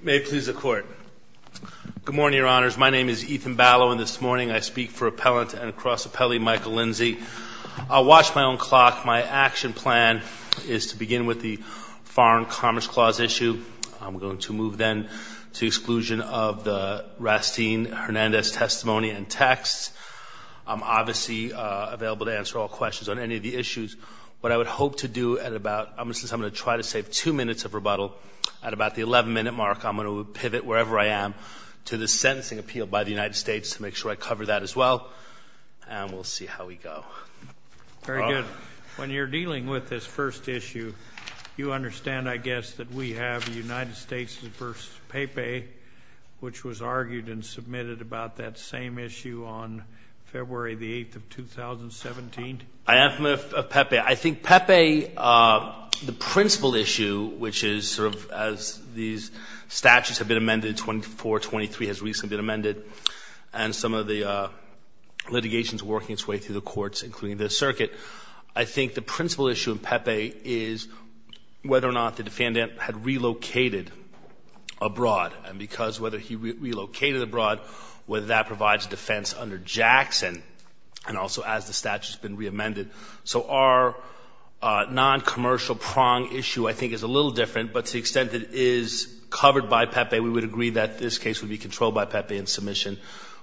May it please the Court. Good morning, Your Honors. My name is Ethan Ballow, and this morning I speak for appellant and cross appellee Michael Lindsay. I'll watch my own clock. My action plan is to begin with the Foreign Commerce Clause issue. I'm going to move then to exclusion of the Rastin-Hernandez testimony and texts. I'm obviously available to answer all questions on any of the issues, but I would hope to do at about, I'm going to try to save two minutes of rebuttal at about the 11-minute mark. I'm going to pivot wherever I am to the sentencing appeal by the United States to make sure I cover that as well, and we'll see how we go. Very good. When you're dealing with this first issue, you understand, I guess, that we have the United States v. Pepe, which was argued and submitted about that same issue on February the 8th of 2017? I am from Pepe. I think Pepe, the issue, as these statutes have been amended, 2423 has recently been amended, and some of the litigation is working its way through the courts, including this circuit. I think the principal issue in Pepe is whether or not the defendant had relocated abroad, and because whether he relocated abroad, whether that provides defense under Jackson, and also as the statute has been re-amended. So our non-commercial prong issue, I think, is a little different, but to the extent that it is covered by Pepe, we would agree that this case would be controlled by Pepe, and submission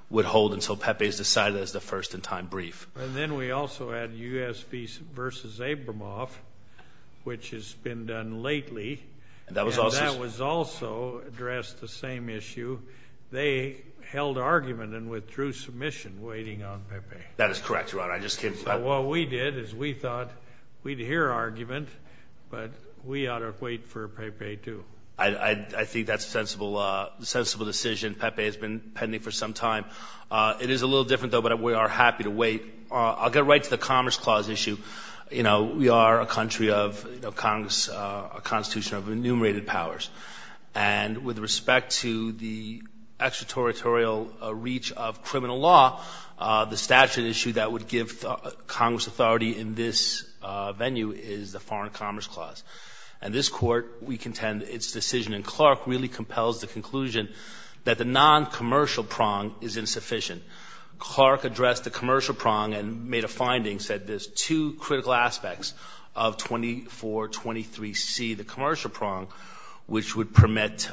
would hold until Pepe is decided as the first-in-time brief. And then we also had U.S. v. Abramoff, which has been done lately, and that was also addressed the same issue. They held argument and withdrew submission, waiting on Pepe. That is correct, Your Honor. I just came to that. What we did is we thought we'd hear argument, but we ought to wait for Pepe, too. I think that's a sensible decision. Pepe has been pending for some time. It is a little different, though, but we are happy to wait. I'll get right to the Commerce Clause issue. You know, we are a country of Congress, a Constitution of enumerated powers, and with respect to the extraterritorial reach of criminal law, the statute issue that would give Congress authority in this venue is the and its decision in Clark really compels the conclusion that the non-commercial prong is insufficient. Clark addressed the commercial prong and made a finding, said there's two critical aspects of 2423C, the commercial prong, which would permit,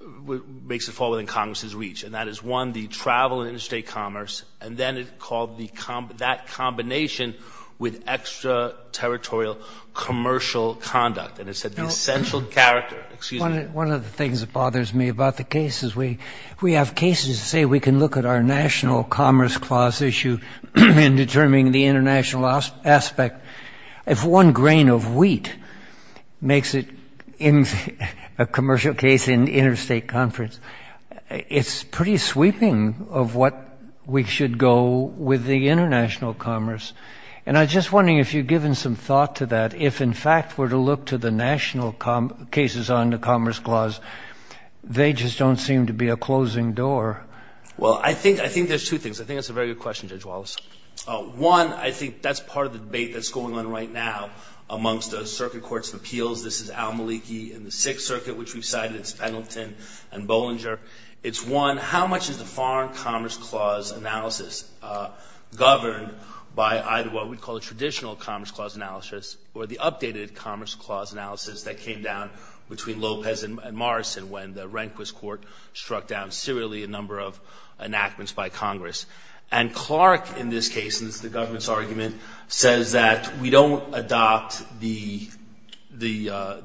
makes it fall within Congress's reach, and that is, one, the travel interstate commerce, and then it called that combination with extraterritorial commercial conduct, and it said the essential character, excuse me. One of the things that bothers me about the case is we have cases say we can look at our National Commerce Clause issue in determining the international aspect. If one grain of wheat makes it in a commercial case in interstate conference, it's pretty sweeping of what we should go with the international commerce, and I'm just wondering if you've given some thought to that. If, in fact, were to look to the national cases on the Commerce Clause, they just don't seem to be a closing door. Well, I think there's two things. I think that's a very good question, Judge Wallace. One, I think that's part of the debate that's going on right now amongst the Circuit Courts of Appeals. This is Al Maliki in the Sixth Circuit, which we've cited. It's Pendleton and Bollinger. It's one, how much is the Foreign Commerce Clause analysis governed by either what we'd call a traditional Commerce Clause analysis or the updated Commerce Clause analysis that came down between Lopez and Morrison when the Rehnquist Court struck down serially a number of enactments by Congress. And Clark, in this case, in the government's argument, says that we don't adopt the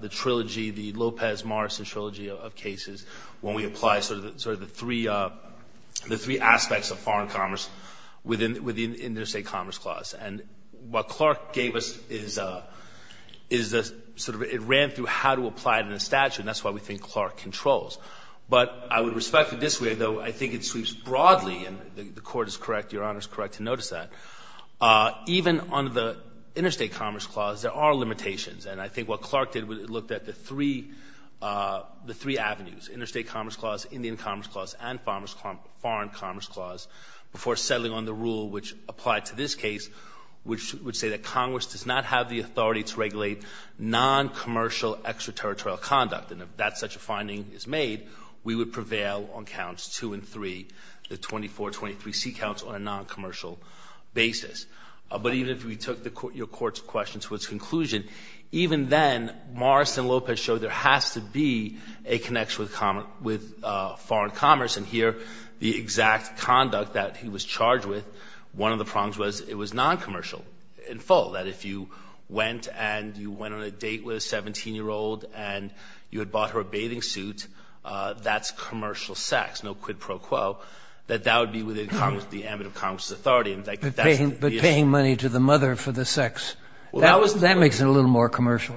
trilogy, the Lopez-Morrison trilogy of cases, when we apply sort of the three aspects of foreign commerce within the Interstate Commerce Clause. And what Clark gave us is a sort of a ramp through how to apply it in a statute, and that's why we think Clark controls. But I would respect it this way, though, I think it sweeps broadly, and the Court is correct, Your Honor is correct to notice that, even on the Interstate Commerce Clause, there are limitations. And I think what Clark did was he looked at the three avenues, Interstate Commerce Clause, Indian Commerce Clause, and Foreign Commerce Clause, before settling on the rule which applied to this case, which would say that Congress does not have the authority to regulate non-commercial extraterritorial conduct. And if that's such a finding is made, we would prevail on counts two and three, the 2423C counts on a non-commercial basis. But even if we took your Court's question to its conclusion, even then, Morris and Lopez showed there has to be a connection with foreign commerce. And here, the exact conduct that he was charged with, one of the problems was it was non-commercial in full, that if you went and you went on a date with a 17-year-old and you had bought her a bathing suit, that's commercial sex, no quid pro quo, that that would be within the ambit of Congress's authority. And that's the issue. So, giving money to the mother for the sex, that makes it a little more commercial.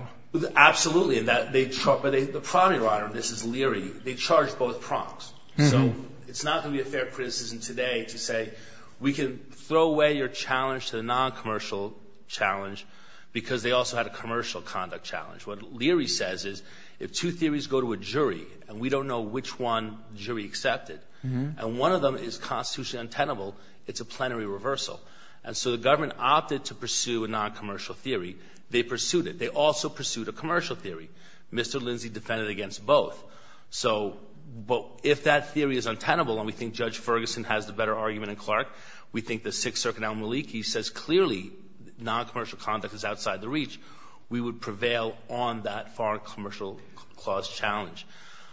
Absolutely. But the primary writer of this is Leary. They charged both prongs. So, it's not going to be a fair criticism today to say, we can throw away your challenge to the non-commercial challenge because they also had a commercial conduct challenge. What Leary says is, if two theories go to a jury, and we don't know which one the jury accepted, and one of them is constitutionally untenable, it's a plenary reversal. And so, the government opted to pursue a non-commercial theory. They pursued it. They also pursued a commercial theory. Mr. Lindsay defended against both. So, but if that theory is untenable, and we think Judge Ferguson has the better argument in Clark, we think the Sixth Circuit Al-Maliki says, clearly, non-commercial conduct is outside the reach. We would prevail on that foreign commercial clause challenge.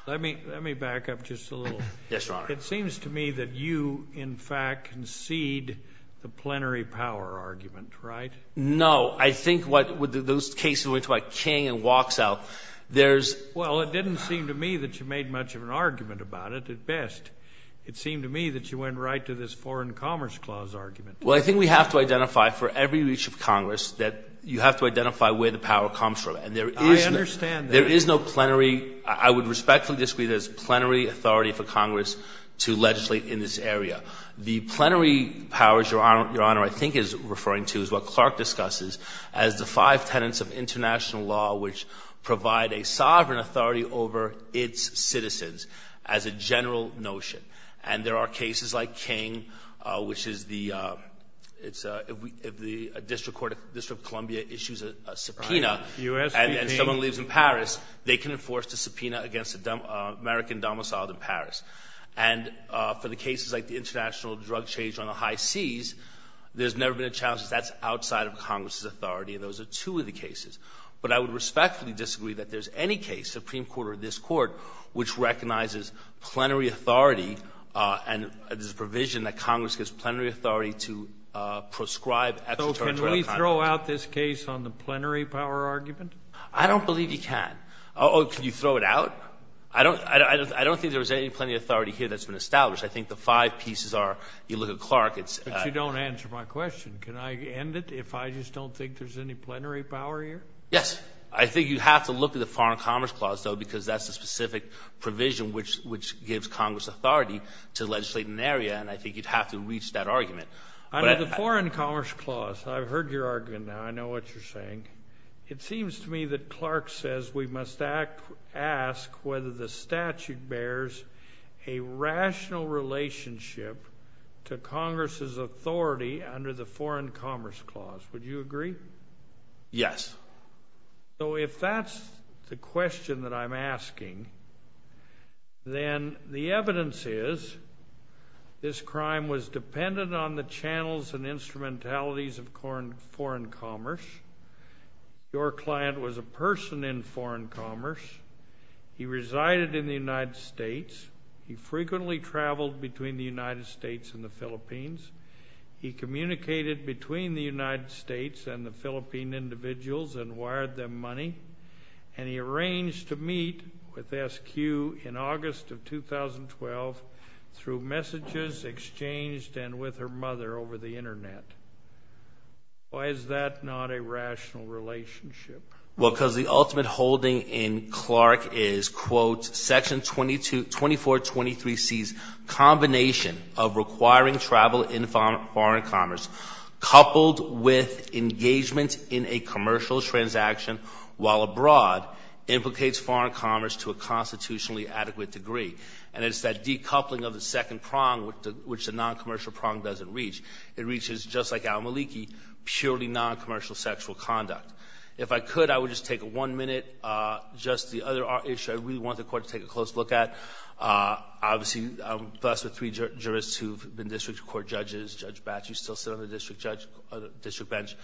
Let me, let me back up just a little. Yes, Your Honor. It seems to me that you, in fact, concede the plenary power argument, right? No. I think what, with those cases where it's like King and walks out, there's... Well, it didn't seem to me that you made much of an argument about it, at best. It seemed to me that you went right to this foreign commerce clause argument. Well, I think we have to identify, for every reach of Congress, that you have to identify where the power comes from. And there is no... I understand that. There is no plenary, I would respectfully disagree, there's plenary authority for to legislate in this area. The plenary powers, Your Honor, I think is referring to, is what Clark discusses, as the five tenets of international law which provide a sovereign authority over its citizens, as a general notion. And there are cases like King, which is the, it's, if the District Court of, District of Columbia issues a subpoena, and someone leaves in Paris, they can enforce the subpoena against the American domiciled in Paris. And for the cases like the international drug change on the high seas, there's never been a challenge, that's outside of Congress's authority, and those are two of the cases. But I would respectfully disagree that there's any case, Supreme Court or this Court, which recognizes plenary authority, and there's a provision that Congress gives plenary authority to prescribe extraterritorial conduct. So can we throw out this case on the plenary power argument? I don't believe you can. Oh, can you throw it out? I don't, I don't, I don't think there's any plenary authority here that's been established. I think the five pieces are, you look at Clark, it's. But you don't answer my question. Can I end it if I just don't think there's any plenary power here? Yes. I think you have to look at the Foreign Commerce Clause, though, because that's a specific provision which, which gives Congress authority to legislate in an area, and I think you'd have to reach that argument. I mean, the Foreign Commerce Clause, I've heard your argument now, I know what you're saying. It seems to me that Clark says we must act, ask whether the statute bears a rational relationship to Congress's authority under the Foreign Commerce Clause. Would you agree? Yes. So if that's the question that I'm asking, then the evidence is this crime was dependent on the channels and instrumentalities of foreign, foreign commerce. Your client was a person in foreign commerce. He resided in the United States. He frequently traveled between the United States and the Philippines. He communicated between the United States and the Philippine individuals and wired them money. And he arranged to meet with SQ in August of 2012 through messages exchanged and with her mother over the internet. Why is that not a rational relationship? Well, because the ultimate holding in Clark is, quote, Section 22, 2423C's combination of requiring travel in foreign commerce coupled with engagement in a commercial transaction while abroad implicates foreign commerce to a constitutionally adequate degree. And it's that decoupling of the second prong with the, which the non-commercial prong doesn't reach. It reaches, just like non-commercial sexual conduct. If I could, I would just take one minute. Just the other issue I really want the Court to take a close look at. Obviously, I'm blessed with three jurists who have been district court judges. Judge Batchew still sits on the district judge, district bench.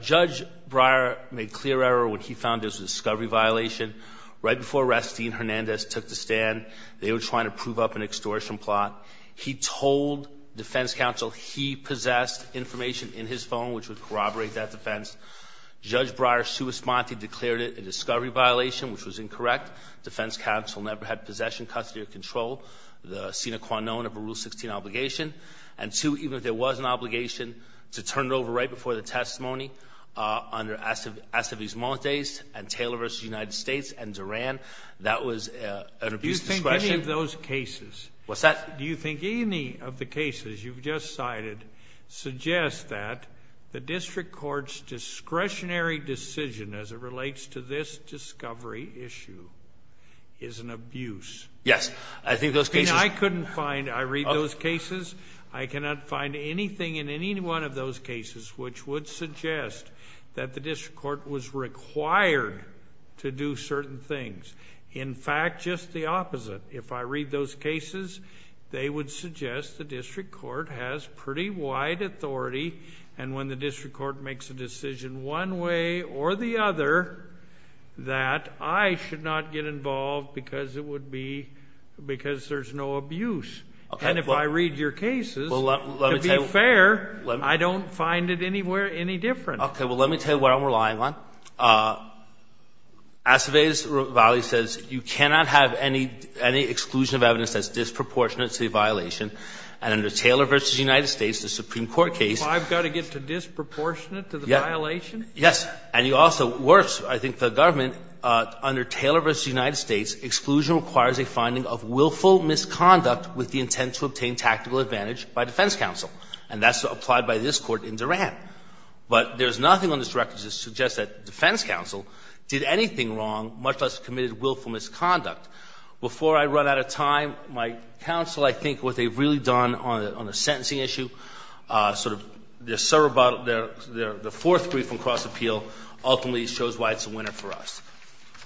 Judge Breyer made clear error when he found this was a discovery violation. Right before arrest, Dean Hernandez took the stand. They were trying to prove up an extortion plot. He told defense counsel he possessed information in his phone, which would corroborate that defense. Judge Breyer's true response, he declared it a discovery violation, which was incorrect. Defense counsel never had possession, custody, or control of the Sina Quanon of a Rule 16 obligation. And two, even if there was an obligation to turn it over right before the testimony under Aceves Montes and Taylor v. United States and Duran, that was an abuse of discretion. Do you think any of those cases? What's that? Do you think any of the cases you've just cited suggest that the district court's discretionary decision as it relates to this discovery issue is an abuse? Yes, I think those cases... I couldn't find... I read those cases. I cannot find anything in any one of those cases which would suggest that the district court was required to do certain things. In fact, just the opposite. If I read those cases, they would suggest the district court has pretty wide authority, and when the district court makes a decision one way or the other, that I should not get involved because it would be... Because there's no abuse. And if I read your cases, to be fair, I don't find it anywhere any different. Okay. Well, let me tell you what I'm relying on. Aceves-Ravalli says you cannot have any exclusion of evidence that's disproportionate to the violation, and under Taylor v. United States, the Supreme Court case... I've got to get to disproportionate to the violation? Yes. And you also, worse, I think the government, under Taylor v. United States, exclusion requires a finding of willful misconduct with the intent to obtain tactical advantage by defense counsel. And that's applied by this Court in Duran. But there's nothing on this record that suggests that defense counsel did anything wrong, much less committed willful misconduct. Before I run out of time, my counsel, I think what they've really done on the sentencing issue, sort of their cerebral... Their fourth brief on cross-appeal ultimately shows why it's a winner for us.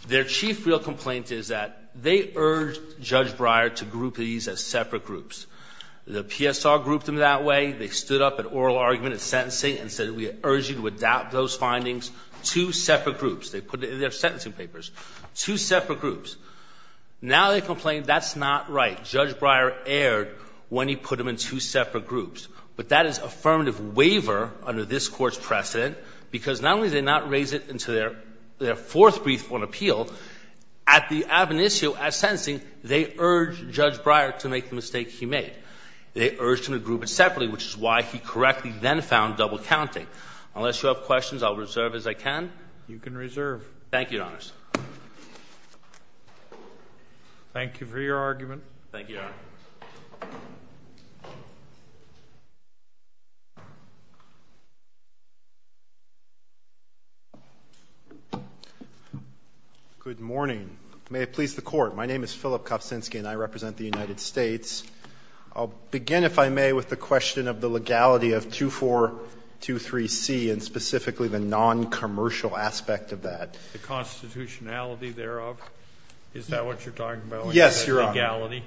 Their chief real complaint is that they urged Judge Breyer to group these as separate groups. The PSR grouped them that way. They stood up at oral argument in sentencing and said, we urge you to adopt those findings, two separate groups. They put it in their sentencing papers, two separate groups. Now they complain that's not right. Judge Breyer erred when he put them in two separate groups. But that is affirmative waiver under this Court's precedent, because not only did they not raise it in their fourth brief on appeal, at the ab initio, at sentencing, they urged Judge Breyer to make the mistake he made. They urged him to group it separately, which is why he correctly then found double counting. Unless you have questions, I'll reserve as I can. You can reserve. Thank you, Your Honors. Thank you for your argument. Thank you, Your Honor. Good morning. May it please the Court. My name is Philip Kofcinski and I represent the United States. I'll begin if I with the question of the legality of 2423C and specifically the non-commercial aspect of that. The constitutionality thereof? Is that what you're talking about? Yes, Your Honor. Legality?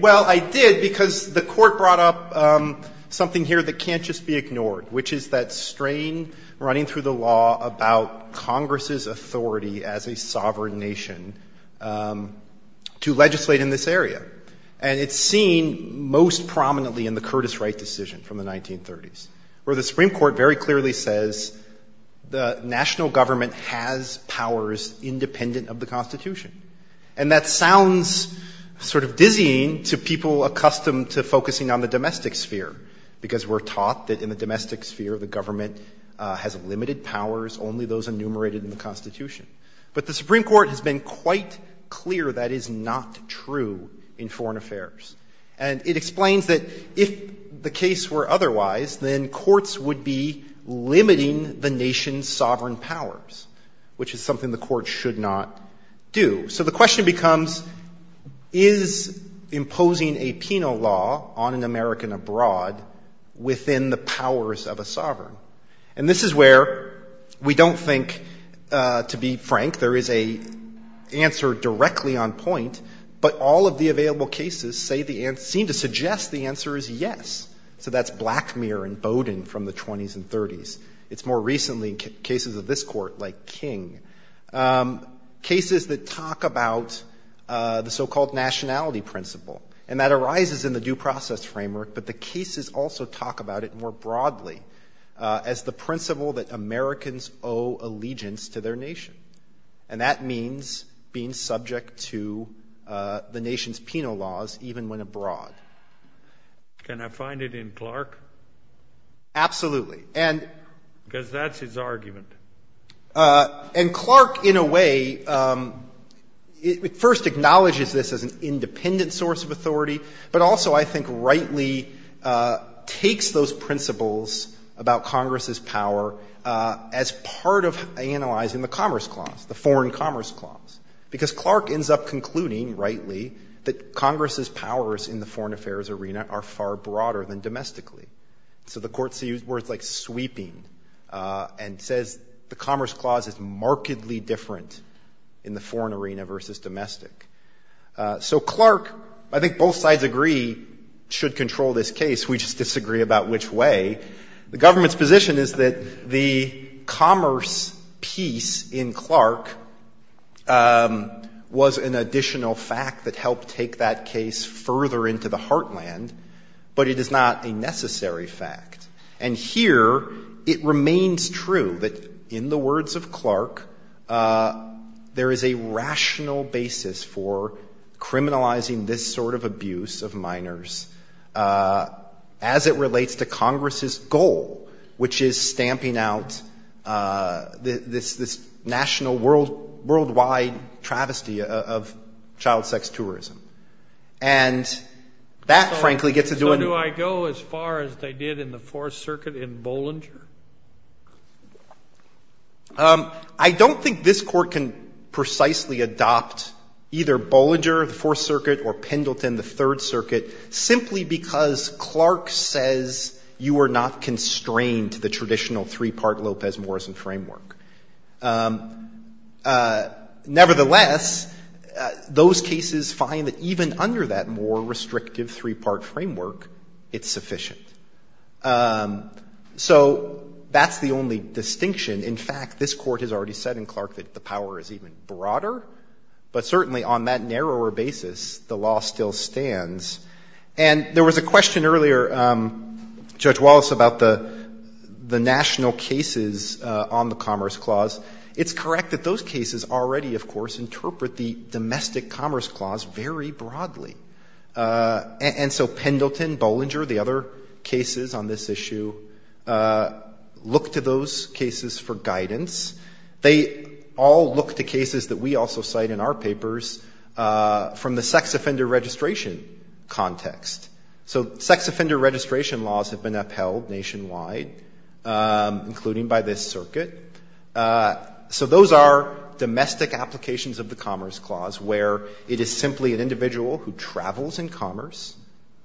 Well, I did because the Court brought up something here that can't just be ignored, which is that strain running through the law about Congress's authority as a sovereign nation to legislate in this area. And it's seen most prominently in the Curtis Wright decision from the 1930s, where the Supreme Court very clearly says the national government has powers independent of the constitution. And that sounds sort of dizzying to people accustomed to focusing on the domestic sphere, because we're taught that in the domestic sphere, the government has limited powers, only those enumerated in the constitution. But the Supreme Court has been quite clear that is not true in foreign affairs. And it explains that if the case were otherwise, then courts would be limiting the nation's sovereign powers, which is something the court should not do. So the question becomes, is imposing a penal law on an American abroad within the powers of a sovereign? And this is where we don't think to be frank, there is an answer directly on point, but all of the available cases seem to suggest the answer is yes. So that's Blackmere and Bowdoin from the 20s and 30s. It's more recently in cases of this court, like King. Cases that talk about the so-called nationality principle. And that arises in the due process framework, but the cases also talk about it more broadly as the principle that Americans owe allegiance to their nation. And that means being subject to the nation's penal laws even when abroad. Can I find it in Clark? Absolutely. Because that's his argument. And Clark in a way first acknowledges this as an independent source of authority, but also I think rightly takes those principles about Congress's power as part of analyzing the Commerce Clause, the Foreign Commerce Clause. Because Clark ends up concluding rightly that Congress's powers in the foreign affairs arena are far broader than domestically. So the court sees words like sweeping and says the Commerce Clause is markedly different in the foreign arena versus domestic. So Clark I think both sides agree should control this case, we just disagree about which way. The government's position is that the Commerce piece in Clark was an additional fact that helped take that case further into the heartland, but it is not a necessary fact. And here it remains true that in the words of Clark there is a rational basis for criminalizing this sort of abuse of minors as it relates to Congress's goal, which is stamping out this national worldwide travesty of child sex tourism. And that frankly gets to do with So do I go as far as they did in the Fourth Circuit in Bollinger? I don't think this court can precisely adopt either Bollinger, the Fourth Circuit, or Pendleton, the Third Circuit, simply because Clark says you are not constrained to the traditional three-part Lopez-Morrison framework. Nevertheless, those cases find that even under that more restrictive three-part framework, it's sufficient. So that's the only distinction. In fact, this court has already said in Clark that the power is even broader, but certainly on that narrower basis the law still stands. And there was a comment from Judge Wallace about the national cases on the Commerce Clause. It's correct that those cases already, of course, interpret the domestic Commerce Clause very broadly. And so Pendleton, Bollinger, the other cases on this issue look to those cases for guidance. They all look to cases that we also cite in our papers from the sex offender registration context. So sex offender registration laws have been upheld nationwide, including by this circuit. So those are domestic applications of the Commerce Clause, where it is simply an individual who travels in commerce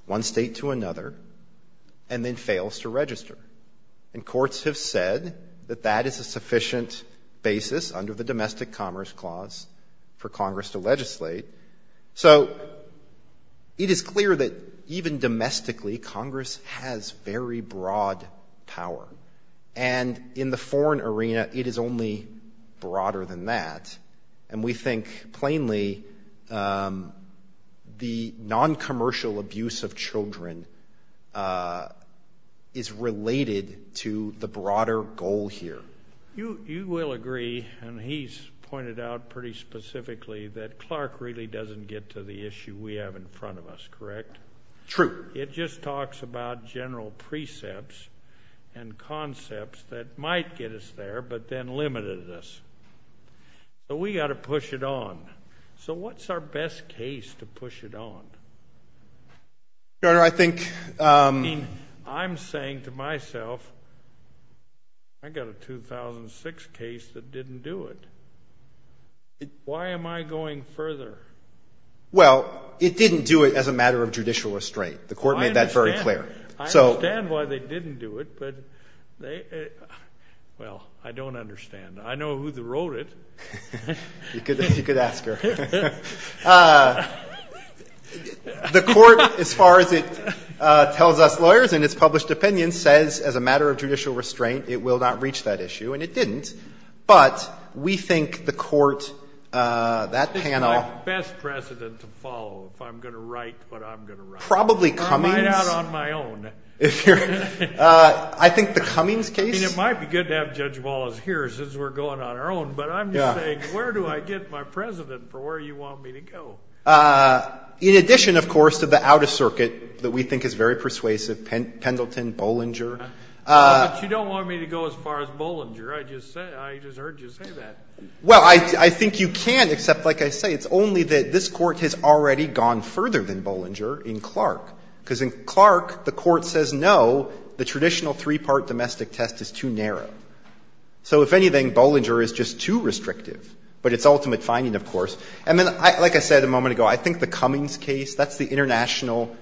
one state to another and then fails to register. And courts have said that that is a sufficient basis under the domestic Commerce Clause for Congress to legislate. So it is clear that even domestically, Congress has very broad power. And in the foreign arena, it is only broader than that. And we think, plainly, the non-commercial abuse of children is related to the broader goal here. You will agree, and he's pointed out pretty specifically, that Clark really doesn't get to the issue we have in front of us, correct? True. It just talks about general precepts and concepts that might get us there, but then limited us. So we've got to push it on. So what's our best case to push it on? I'm saying to myself, I've got a 2006 case that didn't do it. Why am I going further? Well, it didn't do it as a matter of judicial restraint. The Court made that very clear. I understand why they didn't do it. Well, I don't understand. I know who wrote it. You could ask her. The Court, as far as it tells us lawyers in its published opinion, says as a matter of judicial restraint, it will not reach that issue. And it is my best precedent to follow if I'm going to write what I'm going to write. I might write out on my own. It might be good to have Judge Wallace here since we're going on our own, but I'm just saying, where do I get my precedent for where you want me to go? In addition, of course, to the out-of-circuit that we think is very persuasive, Pendleton, Bollinger. But you don't want me to go as far as Bollinger. I just heard you say that. Well, I think you can, except, like I say, it's only that this Court has already gone further than Bollinger in Clark. Because in Clark, the Court says, no, the traditional three-part domestic test is too narrow. So if anything, Bollinger is just too restrictive. But it's ultimate finding, of course. And then, like I said a moment ago, I think the Cummings case, that's the international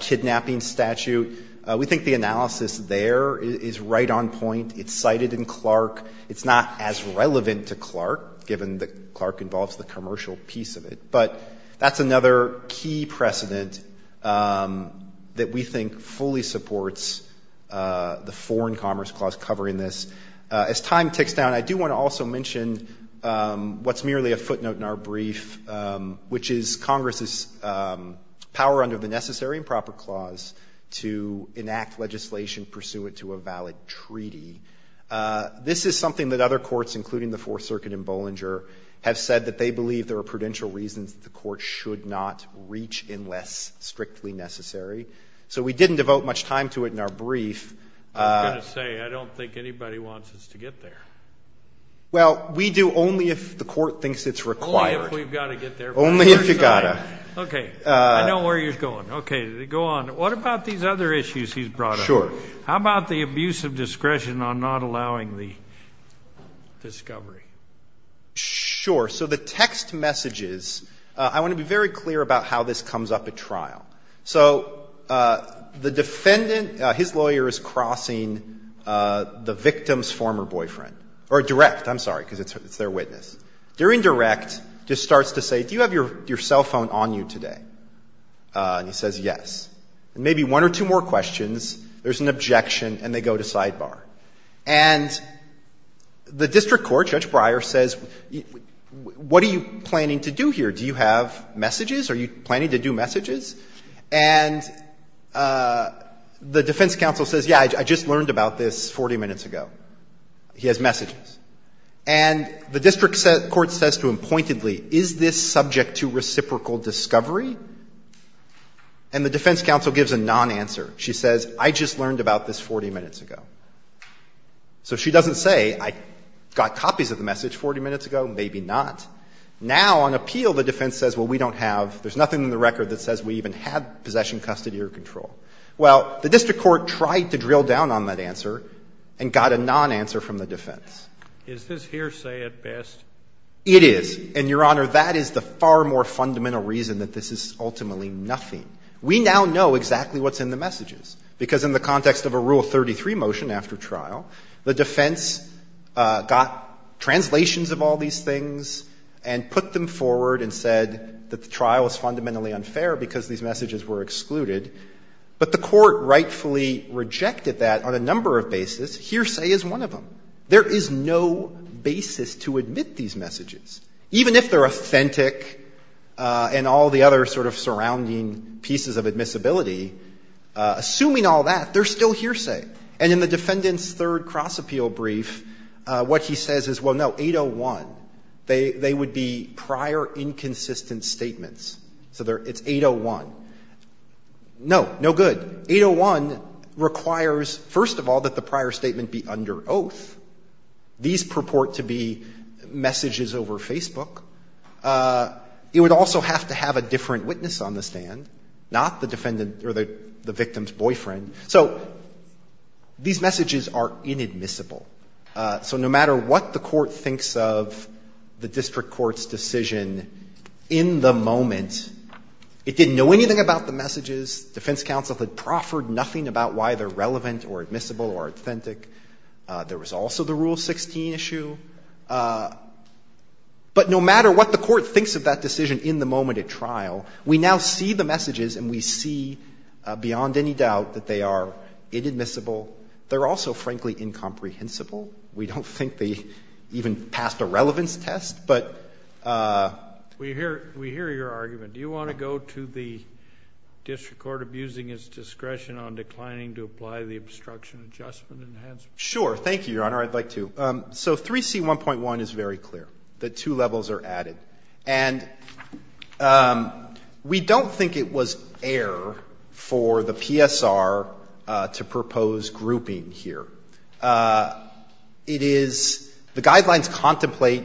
kidnapping statute. We think the analysis there is right on point. It's cited in Clark. It's not as relevant to Clark, given that Clark involves the commercial piece of it. But that's another key precedent that we think fully supports the Foreign Commerce Clause covering this. As time ticks down, I do want to also mention what's merely a footnote in our brief, which is Congress's power under the Constitution to enact legislation pursuant to a valid treaty. This is something that other courts, including the Fourth Circuit and Bollinger, have said that they believe there are prudential reasons that the Court should not reach unless strictly necessary. So we didn't devote much time to it in our brief. I was going to say, I don't think anybody wants us to get there. Well, we do only if the Court thinks it's required. Only if we've got to get there first. Only if you've got to. Okay. I know where he's going. Okay. Go on. What about these other issues he's brought up? Sure. How about the abuse of discretion on not allowing the discovery? Sure. So the text messages, I want to be very clear about how this comes up at trial. So the defendant, his lawyer is crossing the victim's former boyfriend. Or direct. I'm sorry, because it's their witness. During direct, the defendant just starts to say, do you have your cell phone on you today? And he says yes. And maybe one or two more questions, there's an objection, and they go to sidebar. And the district court, Judge Breyer, says, what are you planning to do here? Do you have messages? Are you planning to do messages? And the defense counsel says, yeah, I just learned about this 40 minutes ago. He has messages. And the district court says to him pointedly, is this subject to reciprocal discovery? And the defense counsel gives a non-answer. She says, I just learned about this 40 minutes ago. So she doesn't say, I got copies of the message 40 minutes ago. Maybe not. Now, on appeal, the defense says, well, we don't have, there's nothing in the record that says we even have possession, custody, or control. Well, the district court tried to drill down on that answer and got a non-answer from the defense. Is this hearsay at best? It is. And, Your Honor, that is the far more fundamental reason that this is ultimately nothing. We now know exactly what's in the messages. Because in the context of a Rule 33 motion after trial, the defense got translations of all these things and put them forward and said that the trial is fundamentally unfair because these messages were excluded. But the court rightfully rejected that on a number of basis. Hearsay is one of them. There is no basis to admit these messages. Even if they're authentic and all the other sort of surrounding pieces of admissibility, assuming all that, they're still hearsay. And in the defendant's third cross-appeal brief, what he says is, well, no, 801. They would be prior inconsistent statements. So it's 801. No. No good. But 801 requires, first of all, that the prior statement be under oath. These purport to be messages over Facebook. It would also have to have a different witness on the stand, not the defendant or the victim's boyfriend. So these messages are inadmissible. So no matter what the court thinks of the district court's decision in the moment, it didn't know anything about the messages. Defense counsel had proffered nothing about why they're relevant or admissible or authentic. There was also the Rule 16 issue. But no matter what the court thinks of that decision in the moment at trial, we now see the messages and we see beyond any doubt that they are inadmissible. They're also frankly incomprehensible. We don't think they even passed a relevance test, but... We hear your argument. Do you want to go to the district court, abusing his discretion on declining to apply the obstruction adjustment? Sure. Thank you, Your Honor. I'd like to. So 3C1.1 is very clear. The two levels are added. And we don't think it was air for the PSR to propose grouping here. It is the guidelines contemplate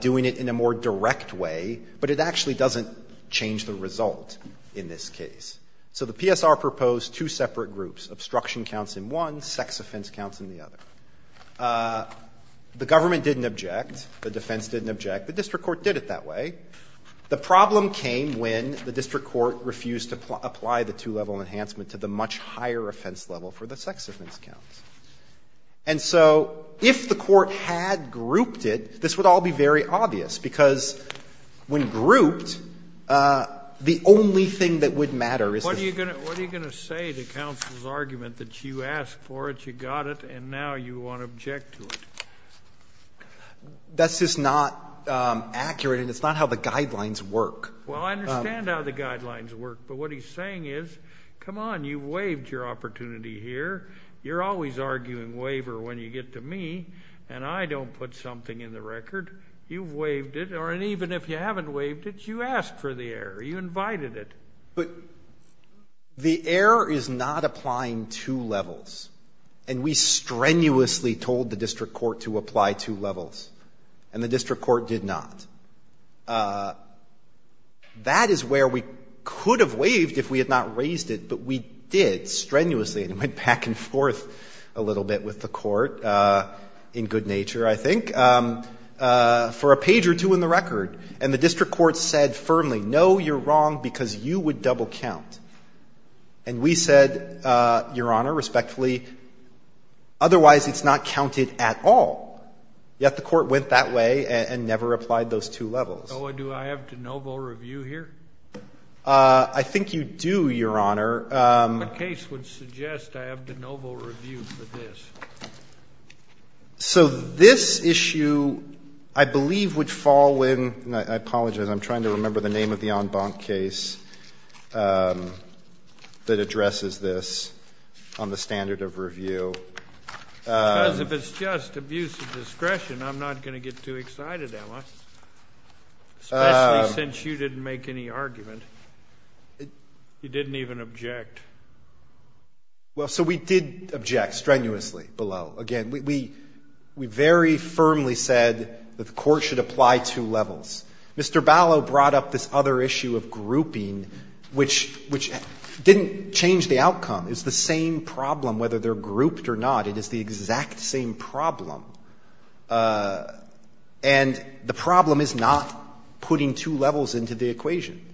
doing it in a more direct way, but it actually doesn't change the result in this case. So the PSR proposed two separate groups. Obstruction counts in one. Sex offense counts in the other. The government didn't object. The defense didn't object. The district court did it that way. The problem came when the district court refused to apply the two-level enhancement to the much higher offense level for the sex offense counts. And so if the court had grouped it, this would all be very obvious, because when grouped the only thing that would matter is... What are you going to say to counsel's argument that you asked for it, you got it, and now you want to object to it? That's just not accurate, and it's not how the guidelines work. Well, I understand how the guidelines work, but what he's saying is, come on, you waived your opportunity here. You're always arguing waiver when you get to me, and I don't put something in the record. You've waived it, or even if you haven't waived it, you asked for the error. You invited it. The error is not applying two levels. And we strenuously told the district court to apply two levels. And the district court did not. That is where we could have waived if we had not raised it, but we did, strenuously, and it went back and forth a little bit with the legislature, I think, for a page or two in the record. And the district court said firmly, no, you're wrong, because you would double count. And we said, Your Honor, respectfully, otherwise it's not counted at all. Yet the court went that way and never applied those two levels. So do I have de novo review here? I think you do, Your Honor. What case would suggest I have de novo review for this? So this issue, I believe, would fall when, and I apologize, I'm trying to remember the name of the en banc case that addresses this on the standard of review. Because if it's just abuse of discretion, I'm not going to get too excited, am I? Especially since you didn't make any argument. You didn't even object. Well, so we did object strenuously below. Again, we very firmly said that the court should apply two levels. Mr. Ballot brought up this other issue of grouping, which didn't change the outcome. It's the same problem whether they're grouped or not. It is the exact same problem. And the problem is not putting two levels into the equation.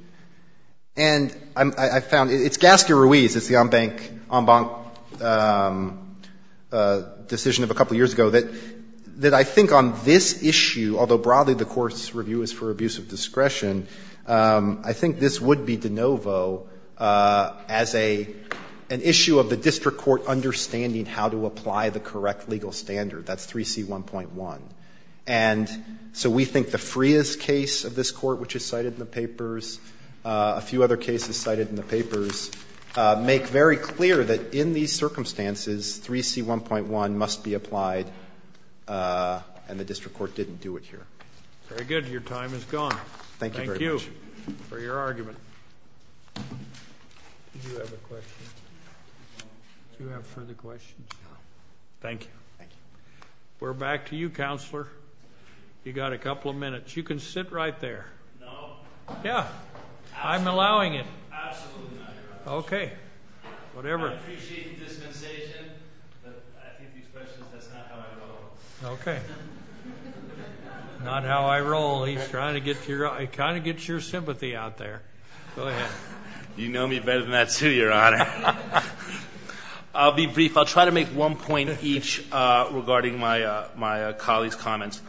And I found, it's Gasque-Ruiz, it's the en banc decision of a couple years ago that I think on this issue, although broadly the court's review is for abuse of discretion, I think this would be de novo as an issue of the district court understanding how to apply the correct legal standard. That's 3C1.1. And so we think the Frias case of this papers, a few other cases cited in the papers, make very clear that in these circumstances, 3C1.1 must be applied and the district court didn't do it here. Very good. Your time is gone. Thank you for your argument. Do you have a question? Do you have further questions? No. Thank you. We're back to you, Counselor. You've got a couple of minutes. You can sit right there. No. Yeah. I'm allowing it. Absolutely not, Your Honor. Okay. Whatever. I appreciate the dispensation, but I think these questions, that's not how I roll. Not how I roll. He's trying to get your sympathy out there. Go ahead. You know me better than that too, Your Honor. I'll be brief. I'll try to make one point each regarding my colleague's comments.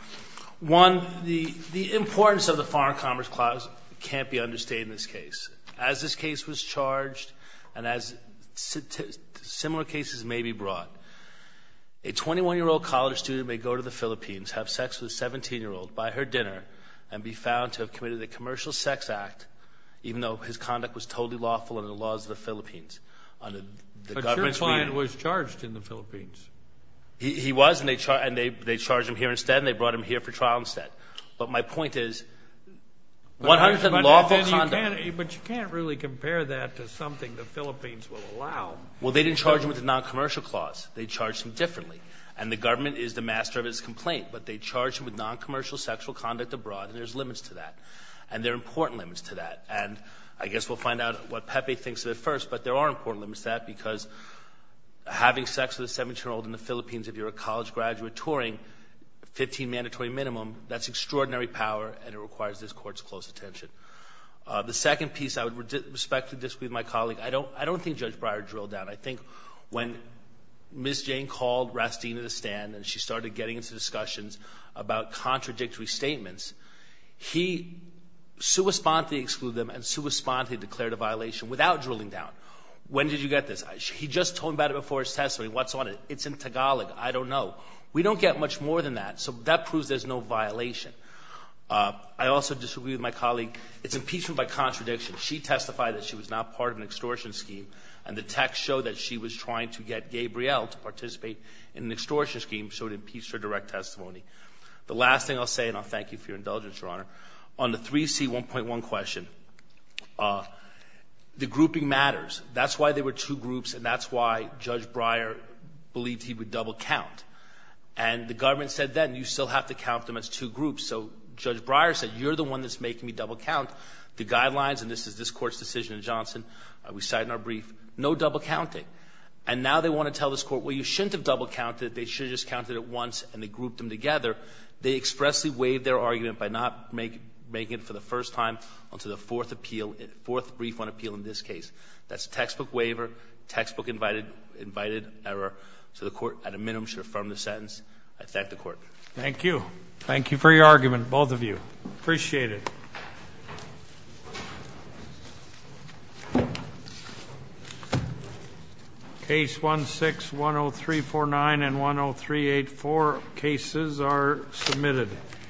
One, the importance of the Foreign Commerce Clause can't be understated in this case. As this case was charged and as similar cases may be brought, a 21-year-old college student may go to the Philippines, have sex with a 17-year-old, buy her dinner, and be found to have committed a commercial sex act even though his conduct was totally lawful under the laws of the Philippines. But your client was charged in the Philippines. He was charged, and they charged him here instead, and they brought him here for trial instead. But my point is, 100% lawful conduct. But you can't really compare that to something the Philippines will allow. Well, they didn't charge him with a non-commercial clause. They charged him differently. And the government is the master of his complaint, but they charged him with non-commercial sexual conduct abroad, and there's limits to that. And there are important limits to that. And I guess we'll find out what Pepe thinks of it first, but there are important limits to that because having sex with a 17-year-old in the Philippines, if you're a college graduate touring, 15 mandatory minimum, that's extraordinary power, and it requires this Court's close attention. The second piece I would respectfully disagree with my colleague, I don't think Judge Breyer drilled down. I think when Ms. Jane called Rastina to stand, and she started getting into discussions about contradictory statements, he sui sponte excluded them and sui sponte declared a violation without drilling down. When did you get this? He just told me about it before his testimony. What's on it? It's in Tagalog. I don't know. We don't get much more than that, so that proves there's no violation. I also disagree with my colleague. It's impeachment by contradiction. She testified that she was not part of an extortion scheme, and the text showed that she was trying to get Gabriel to participate in an extortion scheme, so it impeached her direct testimony. The last thing I'll say, and I'll thank you for your indulgence, Your Honor, on the 3C1.1 question, the grouping matters. That's why there were two groups, and that's why Judge Breyer believed he would double count. And the government said then, you still have to count them as two groups. So Judge Breyer said, you're the one that's making me double count. The guidelines, and this is this Court's decision in Johnson, we cite in our brief, no double counting. And now they want to tell this Court, well, you shouldn't have double counted. They should have just counted it once, and they grouped them together. They expressly waived their argument by not making it for the first time until the fourth appeal fourth brief on appeal in this case. That's a textbook waiver, textbook invited error. So the Court, at a minimum, should affirm the sentence. I thank the Court. Thank you. Thank you for your argument, both of you. Appreciate it. Case 16-10349 and 10384 cases are submitted.